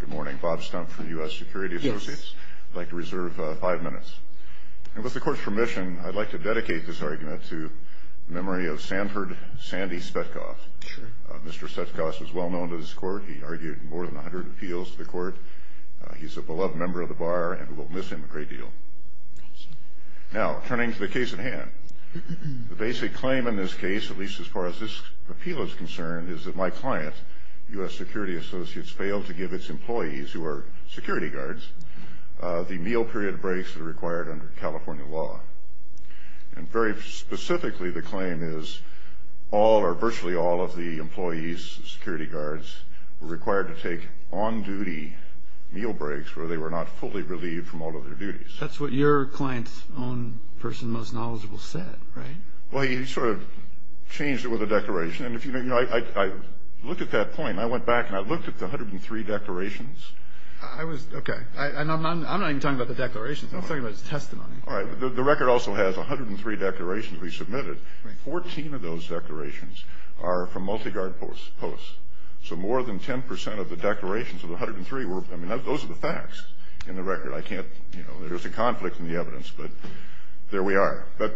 Good morning. Bob Stumpf for U.S. Security Associates. I'd like to reserve five minutes. And with the Court's permission, I'd like to dedicate this argument to the memory of Sanford Sandy Spetkov. Mr. Spetkov was well known to this Court. He argued in more than 100 appeals to the Court. He's a beloved member of the Bar, and we will miss him a great deal. Now, turning to the case at hand, the basic claim in this case, at least as far as this appeal is concerned, is that my client, U.S. Security Associates, failed to give its employees, who are security guards, the meal period breaks that are required under California law. And very specifically, the claim is all or virtually all of the employees, security guards, were required to take on-duty meal breaks where they were not fully relieved from all of their duties. That's what your client's own person, most knowledgeable, said, right? Well, he sort of changed it with a declaration. And if you know, I looked at that point, and I went back and I looked at the 103 declarations. I was, okay. I'm not even talking about the declarations. I'm talking about his testimony. All right. The record also has 103 declarations to be submitted. Right. Fourteen of those declarations are from multi-guard posts. So more than 10 percent of the declarations of the 103 were, I mean, those are the facts in the record. I can't, you know, there's a conflict in the evidence, but there we are. But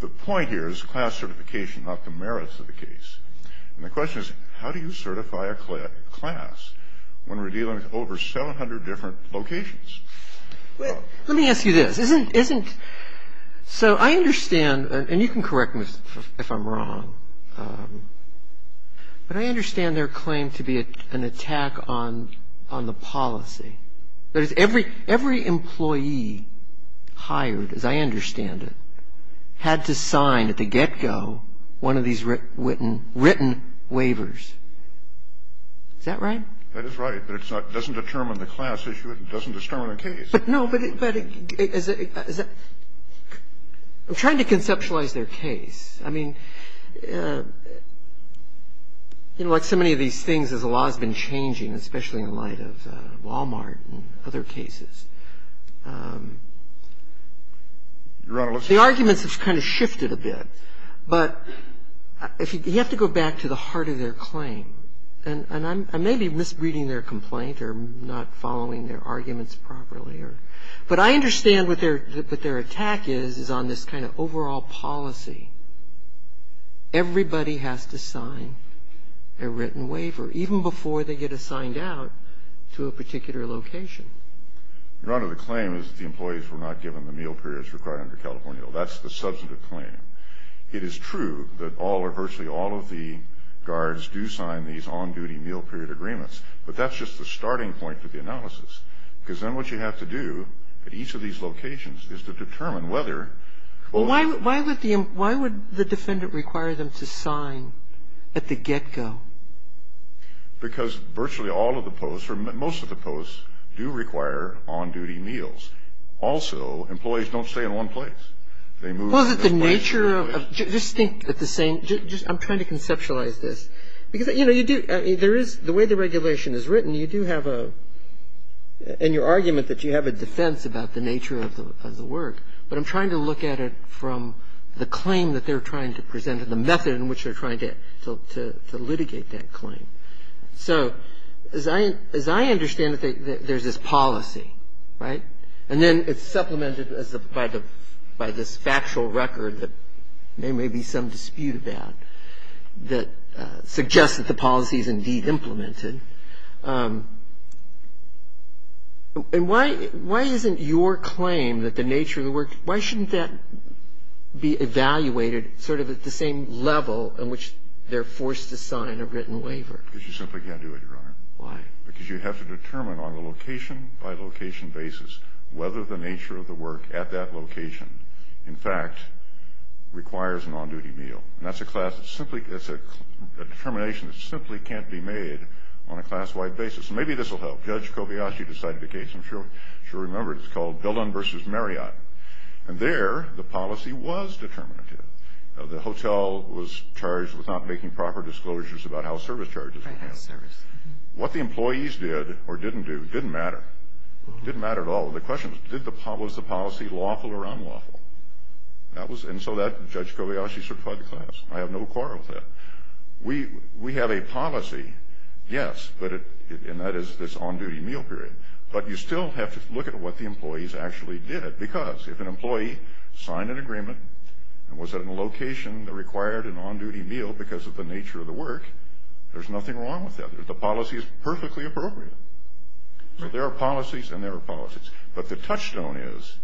the point here is class certification, not the merits of the case. And the question is, how do you certify a class when we're dealing with over 700 different locations? Let me ask you this. Isn't so I understand, and you can correct me if I'm wrong, but I understand their claim to be an attack on the policy. That is, every employee hired, as I understand it, had to sign at the get-go one of these written waivers. Is that right? That is right. But it doesn't determine the class issue. It doesn't determine the case. But, no, but I'm trying to conceptualize their case. I mean, you know, like so many of these things as the law has been changing, especially in light of Walmart and other cases. The arguments have kind of shifted a bit. But you have to go back to the heart of their claim. And I may be misreading their complaint or not following their arguments properly. But I understand what their attack is, is on this kind of overall policy. Everybody has to sign a written waiver, even before they get assigned out to a particular location. Your Honor, the claim is that the employees were not given the meal periods required under California law. That's the substantive claim. It is true that all or virtually all of the guards do sign these on-duty meal period agreements. But that's just the starting point of the analysis. Because then what you have to do at each of these locations is to determine whether or not. Well, why would the defendant require them to sign at the get-go? Because virtually all of the posts, or most of the posts, do require on-duty meals. Also, employees don't stay in one place. They move. Well, is it the nature of, just think at the same, I'm trying to conceptualize this. Because, you know, you do, there is, the way the regulation is written, you do have a, and your argument that you have a defense about the nature of the work. But I'm trying to look at it from the claim that they're trying to present and the method in which they're trying to litigate that claim. So as I understand it, there's this policy, right? And then it's supplemented by this factual record that there may be some dispute about that suggests that the policy is indeed implemented. And why isn't your claim that the nature of the work, why shouldn't that be evaluated sort of at the same level in which they're forced to sign a written waiver? Because you simply can't do it, Your Honor. Why? Because you have to determine on a location-by-location basis whether the nature of the work at that location, in fact, requires an on-duty meal. And that's a class that's simply, it's a determination that simply can't be made on a class-wide basis. Maybe this will help. Judge Kobayashi decided the case. I'm sure you remember it. It's called Dillon v. Marriott. And there, the policy was determinative. The hotel was charged with not making proper disclosures about how service charges were handled. What the employees did or didn't do didn't matter. It didn't matter at all. The question was, was the policy lawful or unlawful? And so Judge Kobayashi certified the class. I have no quarrel with that. We have a policy, yes, and that is this on-duty meal period. But you still have to look at what the employees actually did. Because if an employee signed an agreement and was at a location that required an on-duty meal because of the nature of the work, there's nothing wrong with that. The policy is perfectly appropriate. So there are policies and there are policies. But the touchstone is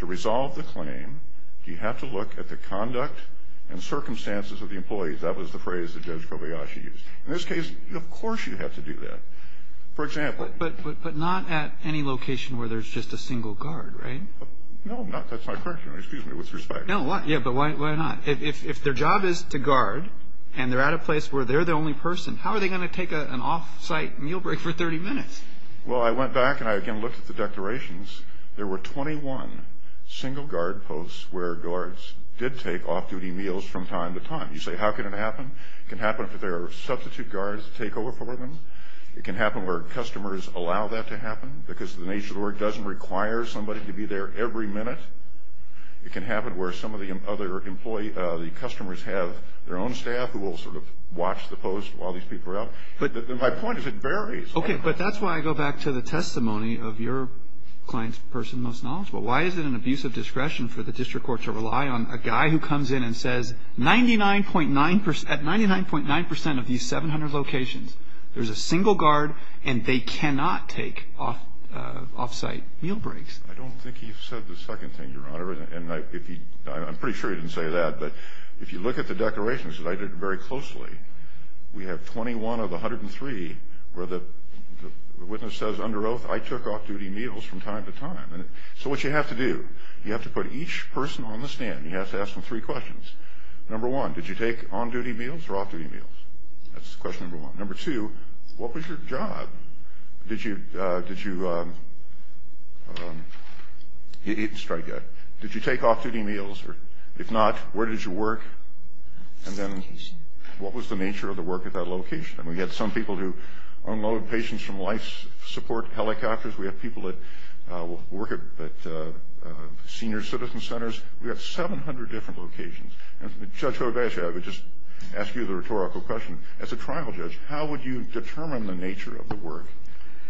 to resolve the claim, you have to look at the conduct and circumstances of the employees. That was the phrase that Judge Kobayashi used. In this case, of course you have to do that. For example. But not at any location where there's just a single guard, right? No, that's my question. Excuse me, with respect. Yeah, but why not? If their job is to guard and they're at a place where they're the only person, how are they going to take an off-site meal break for 30 minutes? Well, I went back and I, again, looked at the declarations. There were 21 single guard posts where guards did take off-duty meals from time to time. You say, how can it happen? It can happen if there are substitute guards to take over for them. It can happen where customers allow that to happen because the nature of the work doesn't require somebody to be there every minute. It can happen where some of the other customers have their own staff who will sort of watch the post while these people are out. My point is it varies. Okay, but that's why I go back to the testimony of your client's person most knowledgeable. Why is it an abuse of discretion for the district court to rely on a guy who comes in and says, at 99.9 percent of these 700 locations, there's a single guard and they cannot take off-site meal breaks? I don't think he said the second thing, Your Honor. And I'm pretty sure he didn't say that. But if you look at the declarations, as I did very closely, we have 21 of the 103 where the witness says, under oath, I took off-duty meals from time to time. So what you have to do, you have to put each person on the stand. You have to ask them three questions. Number one, did you take on-duty meals or off-duty meals? That's question number one. Number two, what was your job? Did you eat and strike? Did you take off-duty meals? If not, where did you work? And then what was the nature of the work at that location? And we had some people who unloaded patients from life support helicopters. We have people that work at senior citizen centers. We have 700 different locations. And, Judge Gorbachev, I would just ask you the rhetorical question. As a trial judge, how would you determine the nature of the work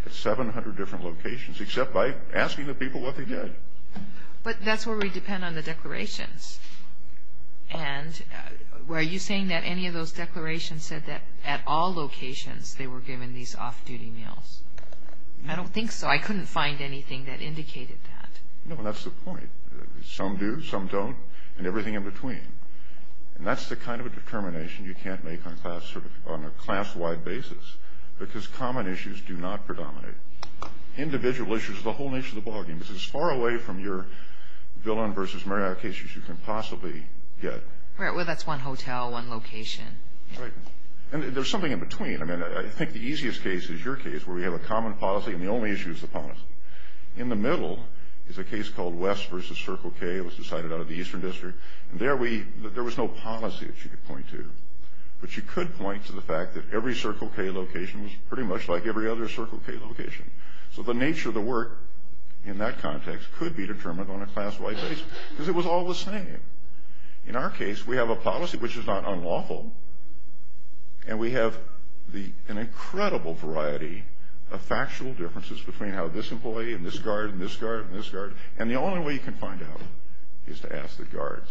at 700 different locations, except by asking the people what they did? But that's where we depend on the declarations. And were you saying that any of those declarations said that at all locations they were given these off-duty meals? I don't think so. I couldn't find anything that indicated that. No, and that's the point. Some do, some don't, and everything in between. And that's the kind of a determination you can't make on a class-wide basis because common issues do not predominate. Individual issues are the whole nature of the ballgame. It's as far away from your villain versus Marriott case as you can possibly get. Right, well, that's one hotel, one location. Right. And there's something in between. I mean, I think the easiest case is your case where we have a common policy and the only issue is the policy. In the middle is a case called West versus Circle K. It was decided out of the Eastern District. And there was no policy that you could point to. But you could point to the fact that every Circle K location was pretty much like every other Circle K location. So the nature of the work in that context could be determined on a class-wide basis because it was all the same. In our case, we have a policy which is not unlawful, and we have an incredible variety of factual differences between how this employee and this guard and this guard and this guard, and the only way you can find out is to ask the guards.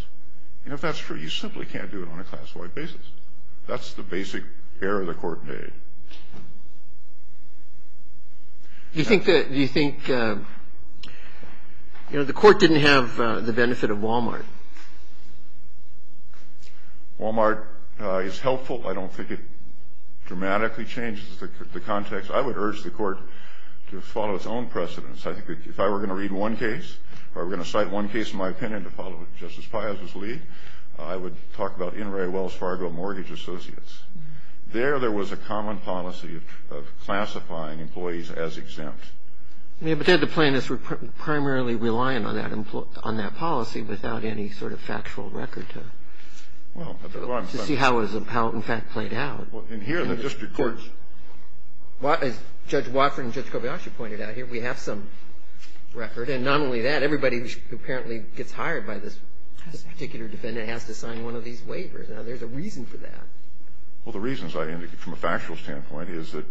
And if that's true, you simply can't do it on a class-wide basis. That's the basic error the court made. Do you think the court didn't have the benefit of Walmart? Walmart is helpful. I don't think it dramatically changes the context. I would urge the court to follow its own precedents. I think if I were going to read one case or were going to cite one case in my opinion to follow Justice Piazza's lead, I would talk about In re Wells Fargo Mortgage Associates. There, there was a common policy of classifying employees as exempt. Yeah, but then the plaintiffs were primarily relying on that policy without any sort of factual record to see how it in fact played out. Well, in here, the district courts. As Judge Watford and Judge Kobayashi pointed out, here we have some record, And not only that, everybody who apparently gets hired by this particular defendant has to sign one of these waivers. Now, there's a reason for that. Well, the reasons I indicated from a factual standpoint is that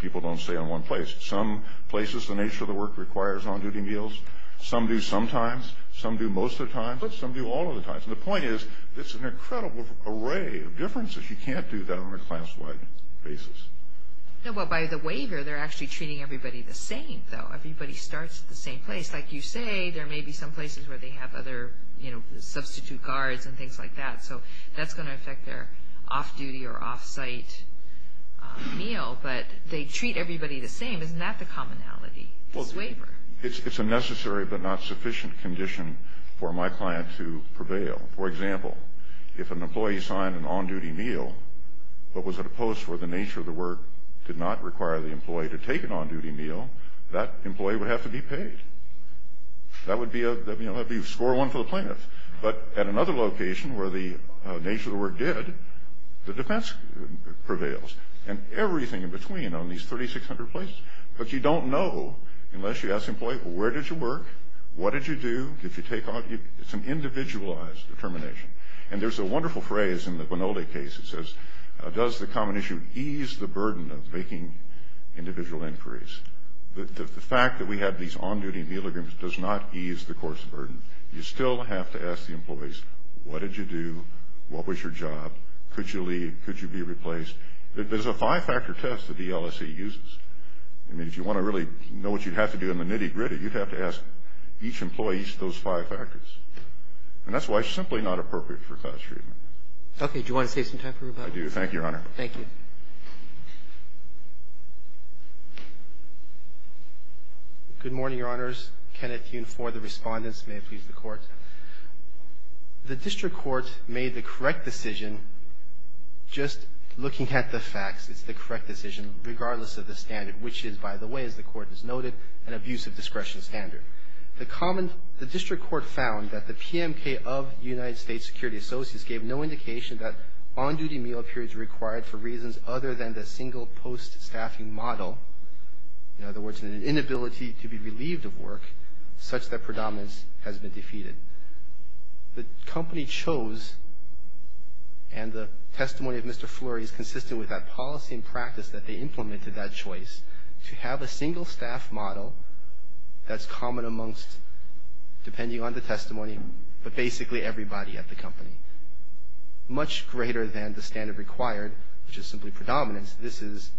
people don't stay in one place. Some places, the nature of the work requires on-duty meals. Some do sometimes. Some do most of the time. But some do all of the time. And the point is, it's an incredible array of differences. You can't do that on a class-wide basis. Well, by the waiver, they're actually treating everybody the same, though. Everybody starts at the same place. Like you say, there may be some places where they have other substitute guards and things like that. So that's going to affect their off-duty or off-site meal. But they treat everybody the same. Isn't that the commonality, this waiver? It's a necessary but not sufficient condition for my client to prevail. For example, if an employee signed an on-duty meal but was at a post where the nature of the work did not require the employee to take an on-duty meal, that employee would have to be paid. That would be score one for the plaintiff. But at another location where the nature of the work did, the defense prevails. And everything in between on these 3,600 places. But you don't know unless you ask the employee, well, where did you work, what did you do, did you take on? It's an individualized determination. And there's a wonderful phrase in the Bonoldi case that says, does the common issue ease the burden of making individual inquiries? The fact that we have these on-duty meal agreements does not ease the course of burden. You still have to ask the employees, what did you do, what was your job, could you leave, could you be replaced? There's a five-factor test that the LLC uses. I mean, if you want to really know what you'd have to do in the nitty-gritty, you'd have to ask each employee each of those five factors. And that's why it's simply not appropriate for class treatment. Okay. Do you want to save some time for rebuttal? I do. Thank you, Your Honor. Thank you. Good morning, Your Honors. Kenneth Yun for the Respondents. May it please the Court. The district court made the correct decision, just looking at the facts, it's the correct decision, regardless of the standard, which is, by the way, as the Court has noted, an abuse of discretion standard. The district court found that the PMK of the United States Security Associates gave no indication that on-duty meal periods were required for reasons other than the single post-staffing model, in other words, an inability to be relieved of work, such that predominance has been defeated. The company chose, and the testimony of Mr. Flory is consistent with that policy and practice that they implemented that choice, to have a single-staff model that's common amongst, depending on the testimony, but basically everybody at the company, much greater than the standard required, which is simply predominance. This is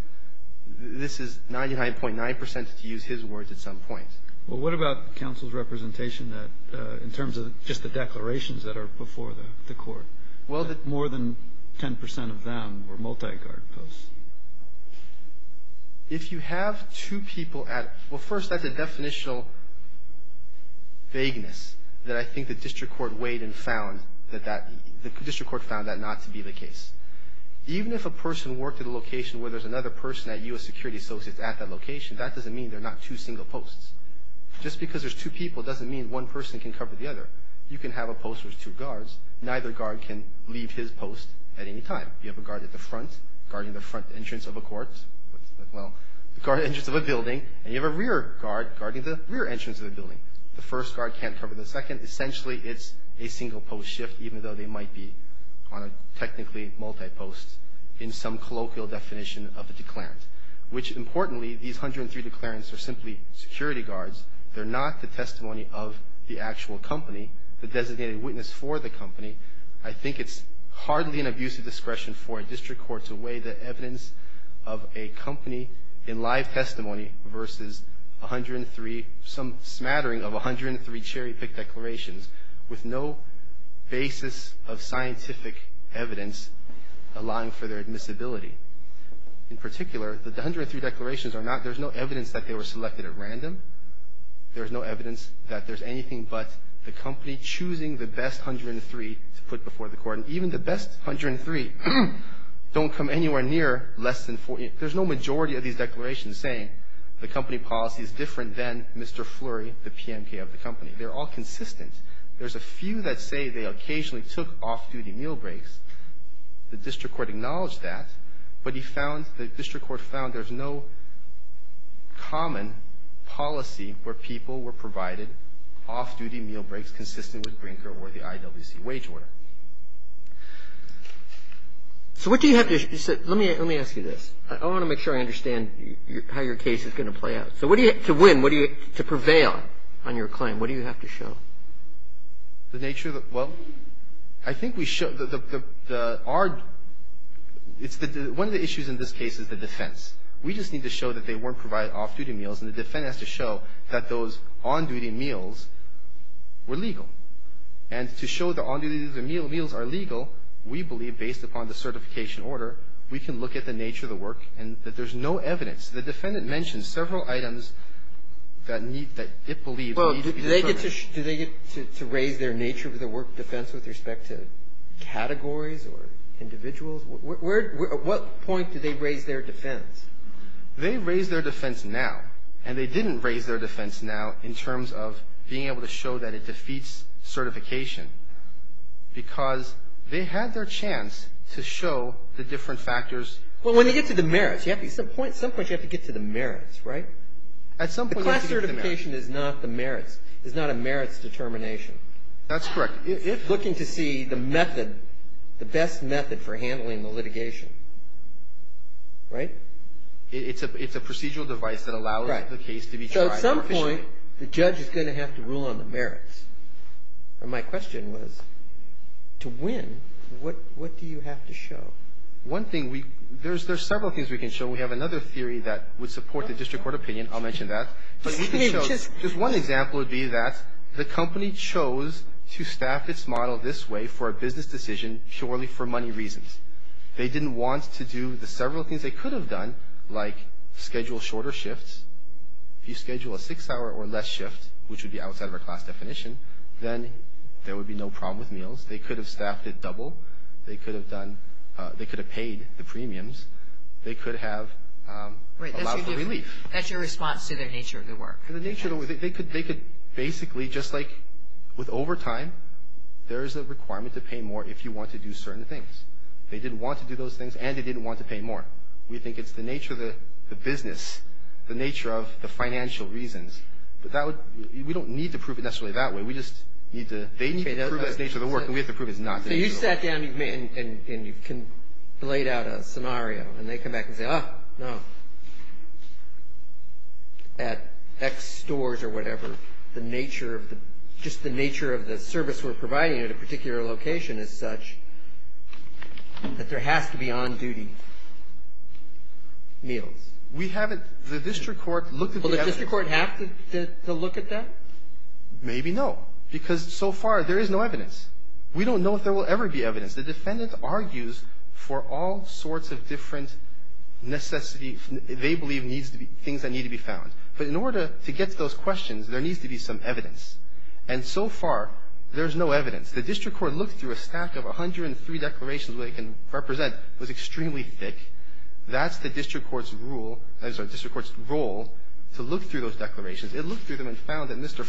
99.9% to use his words at some point. Well, what about counsel's representation in terms of just the declarations that are before the Court? More than 10% of them were multi-guard posts. If you have two people at, well, first, that's a definitional vagueness that I think the district court weighed and found that that, the district court found that not to be the case. Even if a person worked at a location where there's another person at U.S. Security Associates at that location, that doesn't mean there are not two single posts. Just because there's two people doesn't mean one person can cover the other. You can have a post where there's two guards. Neither guard can leave his post at any time. You have a guard at the front, guarding the front entrance of a court, well, the front entrance of a building, and you have a rear guard guarding the rear entrance of the building. The first guard can't cover the second. Essentially, it's a single-post shift, even though they might be on a technically multi-post in some colloquial definition of the declarant, which, importantly, these 103 declarants are simply security guards. They're not the testimony of the actual company, the designated witness for the company. I think it's hardly an abusive discretion for a district court to weigh the evidence of a company in live testimony versus 103, some smattering of 103 cherry-picked declarations with no basis of scientific evidence allowing for their admissibility. In particular, the 103 declarations are not, there's no evidence that they were selected at random. There's no evidence that there's anything but the company choosing the best 103 to put before the court. And even the best 103 don't come anywhere near less than 40. There's no majority of these declarations saying the company policy is different than Mr. Flurry, the PMK of the company. They're all consistent. There's a few that say they occasionally took off-duty meal breaks. The district court acknowledged that. But he found, the district court found there's no common policy where people were provided off-duty meal breaks consistent with Brinker or the IWC wage order. So what do you have to, let me ask you this. I want to make sure I understand how your case is going to play out. So what do you, to win, what do you, to prevail on your claim, what do you have to show? The nature of the, well, I think we show the, the, our, it's the, one of the issues in this case is the defense. We just need to show that they weren't provided off-duty meals, and the defense has to show that those on-duty meals were legal. And to show the on-duty meals are legal, we believe, based upon the certification order, we can look at the nature of the work and that there's no evidence. The defendant mentioned several items that need, that it believes need to be confirmed. Do they get to, do they get to raise their nature of the work defense with respect to categories or individuals? Where, at what point do they raise their defense? They raise their defense now, and they didn't raise their defense now in terms of being able to show that it defeats certification, because they had their chance to show the different factors. Well, when you get to the merits, you have to, at some point, at some point you have to get to the merits, right? At some point you have to get to the merits. Certification is not the merits. It's not a merits determination. That's correct. If looking to see the method, the best method for handling the litigation, right? It's a procedural device that allows the case to be tried. So at some point, the judge is going to have to rule on the merits. My question was, to win, what do you have to show? One thing we, there's several things we can show. We have another theory that would support the district court opinion. I'll mention that. But we can show, just one example would be that the company chose to staff its model this way for a business decision purely for money reasons. They didn't want to do the several things they could have done, like schedule shorter shifts. If you schedule a six-hour or less shift, which would be outside of our class definition, then there would be no problem with meals. They could have staffed it double. They could have done, they could have paid the premiums. They could have allowed for relief. That's your response to their nature of the work. The nature of the work, they could basically, just like with overtime, there is a requirement to pay more if you want to do certain things. They didn't want to do those things, and they didn't want to pay more. We think it's the nature of the business, the nature of the financial reasons. But that would, we don't need to prove it necessarily that way. We just need to, they need to prove that it's the nature of the work, and we have to prove it's not the nature of the work. So you sat down and you've laid out a scenario, and they come back and say, oh, no, at X stores or whatever, the nature of the, just the nature of the service we're providing at a particular location is such that there has to be on-duty meals. We haven't, the district court looked at the evidence. Will the district court have to look at that? Maybe no, because so far there is no evidence. We don't know if there will ever be evidence. The defendant argues for all sorts of different necessity, they believe needs to be, things that need to be found. But in order to get to those questions, there needs to be some evidence. And so far, there's no evidence. The district court looked through a stack of 103 declarations that it can represent. It was extremely thick. That's the district court's rule, sorry, district court's role to look through those declarations. But Mr.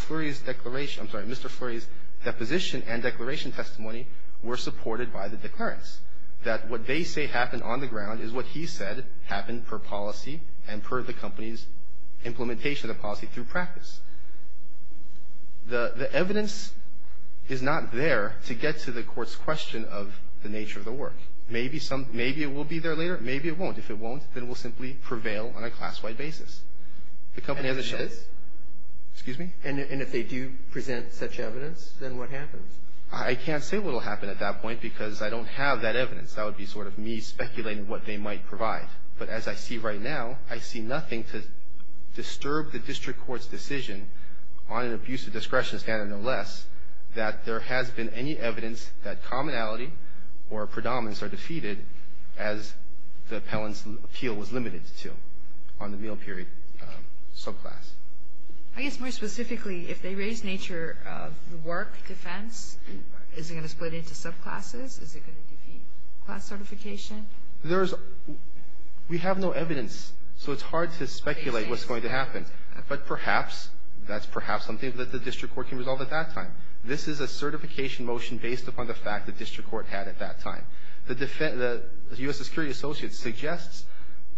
Fleury's deposition and declaration testimony were supported by the declarants, that what they say happened on the ground is what he said happened per policy and per the company's implementation of the policy through practice. The evidence is not there to get to the court's question of the nature of the work. Maybe some, maybe it will be there later. Maybe it won't. If it won't, then it will simply prevail on a class-wide basis. The company has a chance. Excuse me? And if they do present such evidence, then what happens? I can't say what will happen at that point because I don't have that evidence. That would be sort of me speculating what they might provide. But as I see right now, I see nothing to disturb the district court's decision on an abuse of discretion standard, no less, that there has been any evidence that commonality or predominance are defeated as the appellant's appeal was limited to on the meal period subclass. I guess more specifically, if they raise nature of the work defense, is it going to split into subclasses? Is it going to defeat class certification? We have no evidence, so it's hard to speculate what's going to happen. But perhaps, that's perhaps something that the district court can resolve at that time. This is a certification motion based upon the fact the district court had at that time. The U.S. Security Associates suggests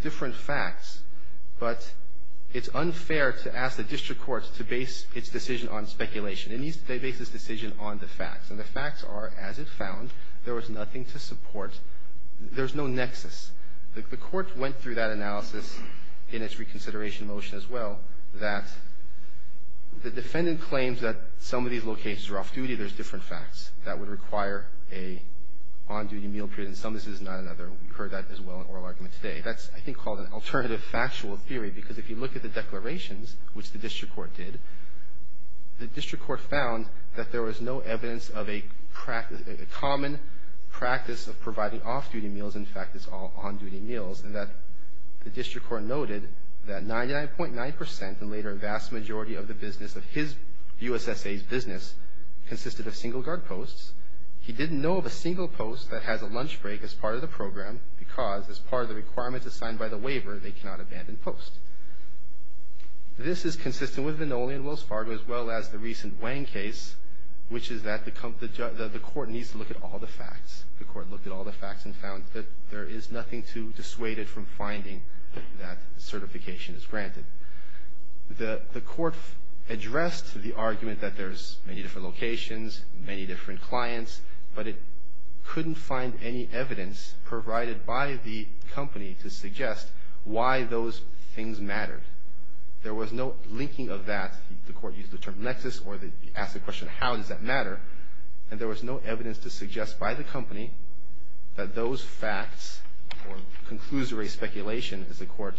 different facts, but it's unfair to ask the district court to base its decision on speculation. It needs to base its decision on the facts. And the facts are, as it found, there was nothing to support. There's no nexus. The court went through that analysis in its reconsideration motion as well, that the defendant claims that some of these locations are off-duty. There's different facts that would require an on-duty meal period. And some of this is not another. We've heard that as well in oral argument today. That's, I think, called an alternative factual theory, because if you look at the declarations, which the district court did, the district court found that there was no evidence of a common practice of providing off-duty meals. In fact, it's all on-duty meals, and that the district court noted that 99.9 percent, and later a vast majority of the business of his U.S.S.A.'s business, consisted of single guard posts. He didn't know of a single post that has a lunch break as part of the program, because as part of the requirements assigned by the waiver, they cannot abandon posts. This is consistent with Vannoli and Wells Fargo, as well as the recent Wang case, which is that the court needs to look at all the facts. The court looked at all the facts and found that there is nothing to dissuade it from finding that certification is granted. The court addressed the argument that there's many different locations, many different clients, but it couldn't find any evidence provided by the company to suggest why those things mattered. There was no linking of that. The court used the term nexus, or they asked the question, how does that matter? And there was no evidence to suggest by the company that those facts, or conclusory speculation, as the court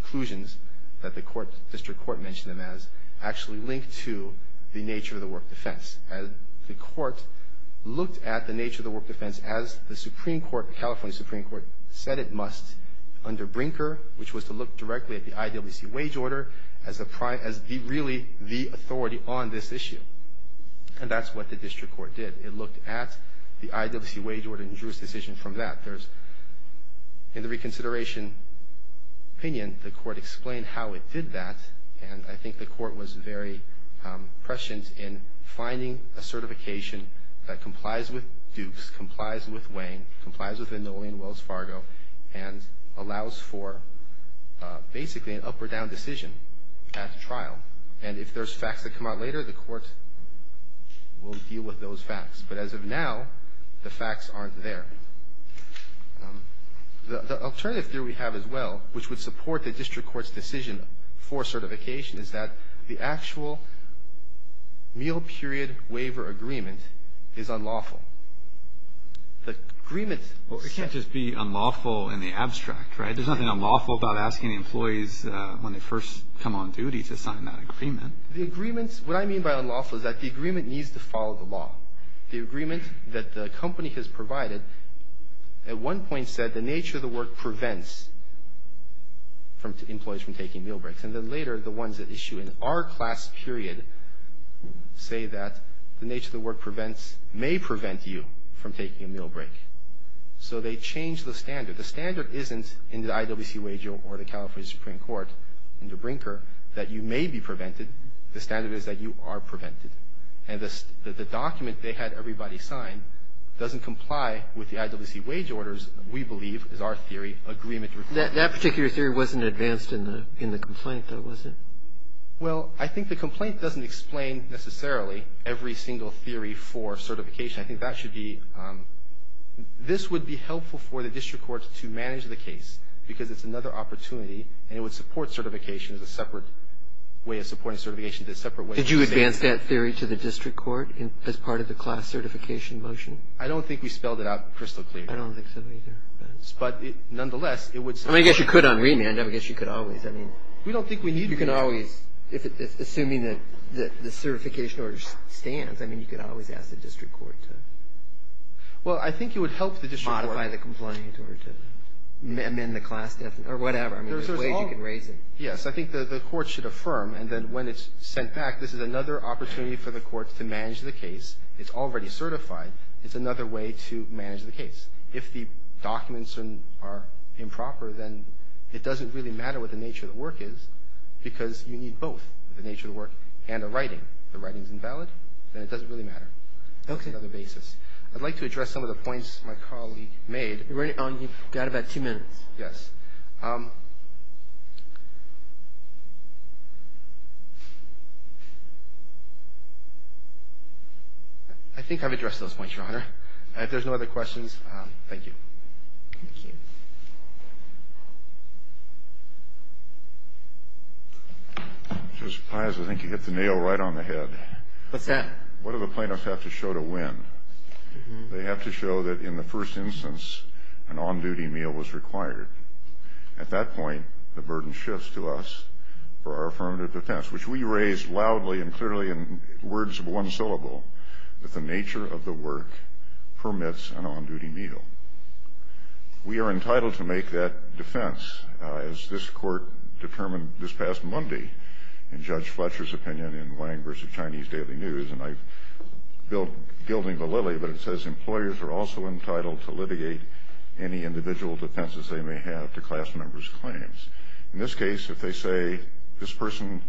conclusions that the district court mentioned them as, actually linked to the nature of the work defense. And the court looked at the nature of the work defense as the Supreme Court, California Supreme Court, said it must under Brinker, which was to look directly at the IWC wage order as really the authority on this issue. And that's what the district court did. It looked at the IWC wage order and drew its decision from that. In the reconsideration opinion, the court explained how it did that, and I think the court was very prescient in finding a certification that complies with Dukes, complies with Wang, complies with Vannoli and Wells Fargo, and allows for basically an up or down decision at trial. And if there's facts that come out later, the court will deal with those facts. But as of now, the facts aren't there. The alternative theory we have as well, which would support the district court's decision for certification, is that the actual meal period waiver agreement is unlawful. The agreement… Well, it can't just be unlawful in the abstract, right? There's nothing unlawful about asking the employees when they first come on duty to sign that agreement. The agreements… What I mean by unlawful is that the agreement needs to follow the law. The agreement that the company has provided at one point said the nature of the work prevents employees from taking meal breaks. And then later, the ones that issue in our class period say that the nature of the work prevents… may prevent you from taking a meal break. So they changed the standard. The standard isn't in the IWC wage or the California Supreme Court, in the Brinker, that you may be prevented. The standard is that you are prevented. And the document they had everybody sign doesn't comply with the IWC wage orders, we believe, is our theory, agreement requires. That particular theory wasn't advanced in the complaint, though, was it? Well, I think the complaint doesn't explain necessarily every single theory for certification. I think that should be – this would be helpful for the district court to manage the case because it's another opportunity and it would support certification as a separate way of supporting certification. Did you advance that theory to the district court as part of the class certification motion? I don't think we spelled it out crystal clear. I don't think so either. But nonetheless, it would support… I mean, I guess you could on remand. I guess you could always. I mean… We don't think we need… Assuming that the certification order stands, I mean, you could always ask the district court to… Well, I think it would help the district court…… modify the complaint or to amend the class definition or whatever. I mean, there's a way you can raise it. Yes, I think the court should affirm. And then when it's sent back, this is another opportunity for the court to manage the case. It's another way to manage the case. If the documents are improper, then it doesn't really matter what the nature of the work is because you need both the nature of the work and the writing. If the writing is invalid, then it doesn't really matter. Okay. That's another basis. I'd like to address some of the points my colleague made. You've got about two minutes. Yes. I think I've addressed those points, Your Honor. If there's no other questions, thank you. Thank you. Justice Pius, I think you hit the nail right on the head. What's that? What do the plaintiffs have to show to win? They have to show that in the first instance, an on-duty meal was required. At that point, the burden shifts to us for our affirmative defense, which we raised loudly and clearly in words of one syllable, that the nature of the work permits an on-duty meal. We are entitled to make that defense, as this Court determined this past Monday in Judge Fletcher's opinion in Wang v. Chinese Daily News, and I'm gilding the lily, but it says employers are also entitled to litigate any individual defenses they may have to class member's claims. In this case, if they say this person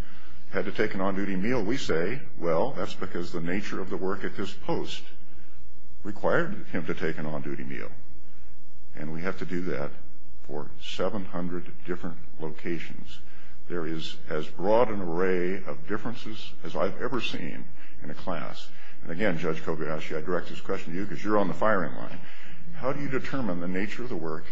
had to take an on-duty meal, we say, well, that's because the nature of the work at this post required him to take an on-duty meal, and we have to do that for 700 different locations. There is as broad an array of differences as I've ever seen in a class, and again, Judge Kobayashi, I direct this question to you because you're on the firing line. How do you determine the nature of the work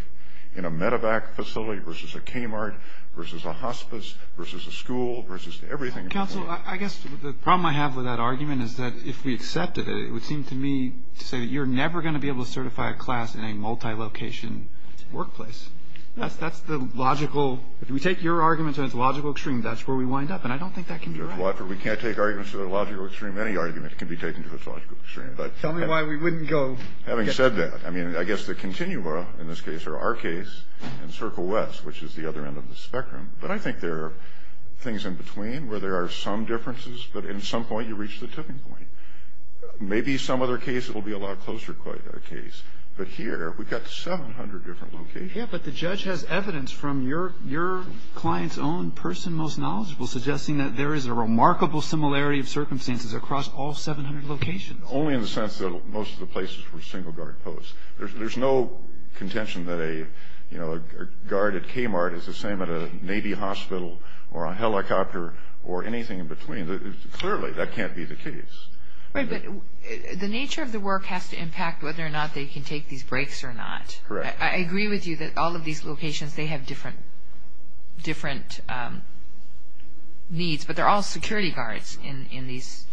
in a medevac facility versus a Kmart, versus a hospice, versus a school, versus everything? Counsel, I guess the problem I have with that argument is that if we accepted it, it would seem to me to say that you're never going to be able to certify a class in a multilocation workplace. That's the logical – if we take your argument to its logical extreme, that's where we wind up, and I don't think that can be right. We can't take arguments to the logical extreme. Any argument can be taken to its logical extreme. All right. Tell me why we wouldn't go. Having said that, I mean, I guess the continua in this case, or our case, in Circle West, which is the other end of the spectrum, but I think there are things in between where there are some differences, but at some point you reach the tipping point. Maybe some other case it will be a lot closer case, but here we've got 700 different locations. Yeah, but the judge has evidence from your client's own person most knowledgeable suggesting that there is a remarkable similarity of circumstances across all 700 locations. Only in the sense that most of the places were single guard posts. There's no contention that a guard at Kmart is the same at a Navy hospital or a helicopter or anything in between. Clearly, that can't be the case. Right, but the nature of the work has to impact whether or not they can take these breaks or not. Correct. I agree with you that all of these locations, they have different needs, but they're all security guards in these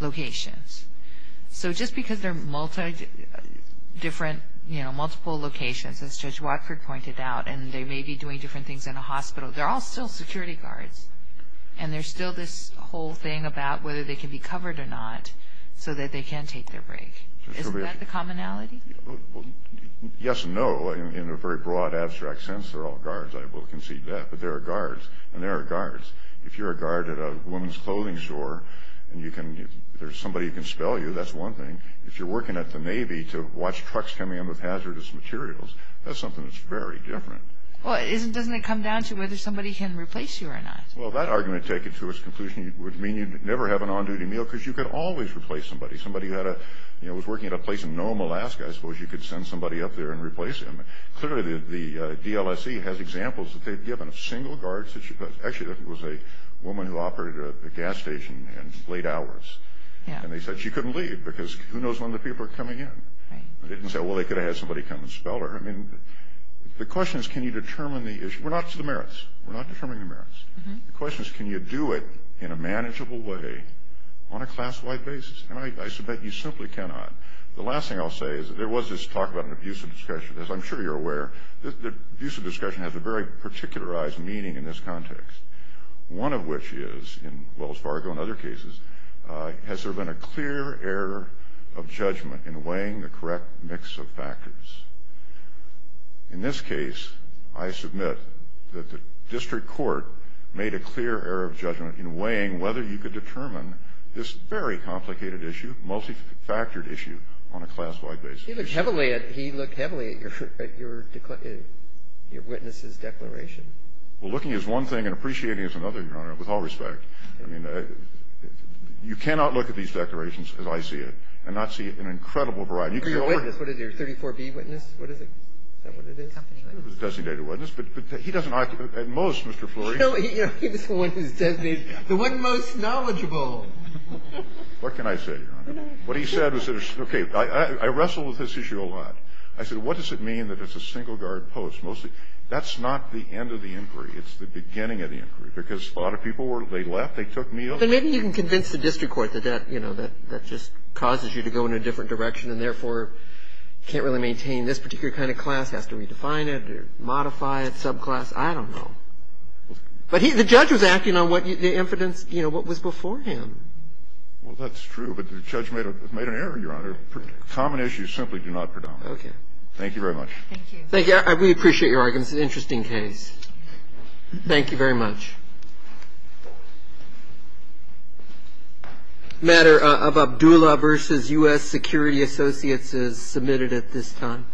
locations. So just because there are multiple locations, as Judge Watford pointed out, and they may be doing different things in a hospital, they're all still security guards, and there's still this whole thing about whether they can be covered or not so that they can take their break. Isn't that the commonality? Yes and no, in a very broad, abstract sense, they're all guards. If you're a guard at a woman's clothing store and there's somebody who can spell you, that's one thing. If you're working at the Navy to watch trucks coming in with hazardous materials, that's something that's very different. Well, doesn't it come down to whether somebody can replace you or not? Well, that argument, take it to its conclusion, would mean you'd never have an on-duty meal because you could always replace somebody. Somebody was working at a place in Nome, Alaska, I suppose you could send somebody up there and replace him. Clearly, the DLSE has examples that they've given of single guards. Actually, there was a woman who operated a gas station in late hours, and they said she couldn't leave because who knows when the people are coming in. They didn't say, well, they could have had somebody come and spell her. The question is, can you determine the issue? We're not to the merits. We're not determining the merits. The question is, can you do it in a manageable way on a class-wide basis? And I submit you simply cannot. The last thing I'll say is there was this talk about an abusive discussion. One of which is, as well as Fargo and other cases, has there been a clear error of judgment in weighing the correct mix of factors? In this case, I submit that the district court made a clear error of judgment in weighing whether you could determine this very complicated issue, multifactored issue on a class-wide basis. He looked heavily at your witness's declaration. Well, looking is one thing and appreciating is another, Your Honor, with all respect. I mean, you cannot look at these declarations as I see it and not see an incredible variety. What is it? Your 34B witness? What is it? Is that what it is? It was a designated witness, but he doesn't occupy at most, Mr. Fleury. He's the one who's designated. The one most knowledgeable. What can I say, Your Honor? What he said was, okay, I wrestle with this issue a lot. I said, what does it mean that it's a single-guard post? That's not the end of the inquiry. It's the beginning of the inquiry. Because a lot of people were they left, they took meals. But maybe you can convince the district court that that, you know, that just causes you to go in a different direction and therefore can't really maintain this particular kind of class, has to redefine it or modify it, subclass. I don't know. But the judge was acting on what the evidence, you know, what was before him. Well, that's true, but the judge made an error, Your Honor. Common issues simply do not predominate. Okay. Thank you very much. Thank you. Thank you. We appreciate your argument. It's an interesting case. Thank you very much. A matter of Abdullah v. U.S. Security Associates is submitted at this time.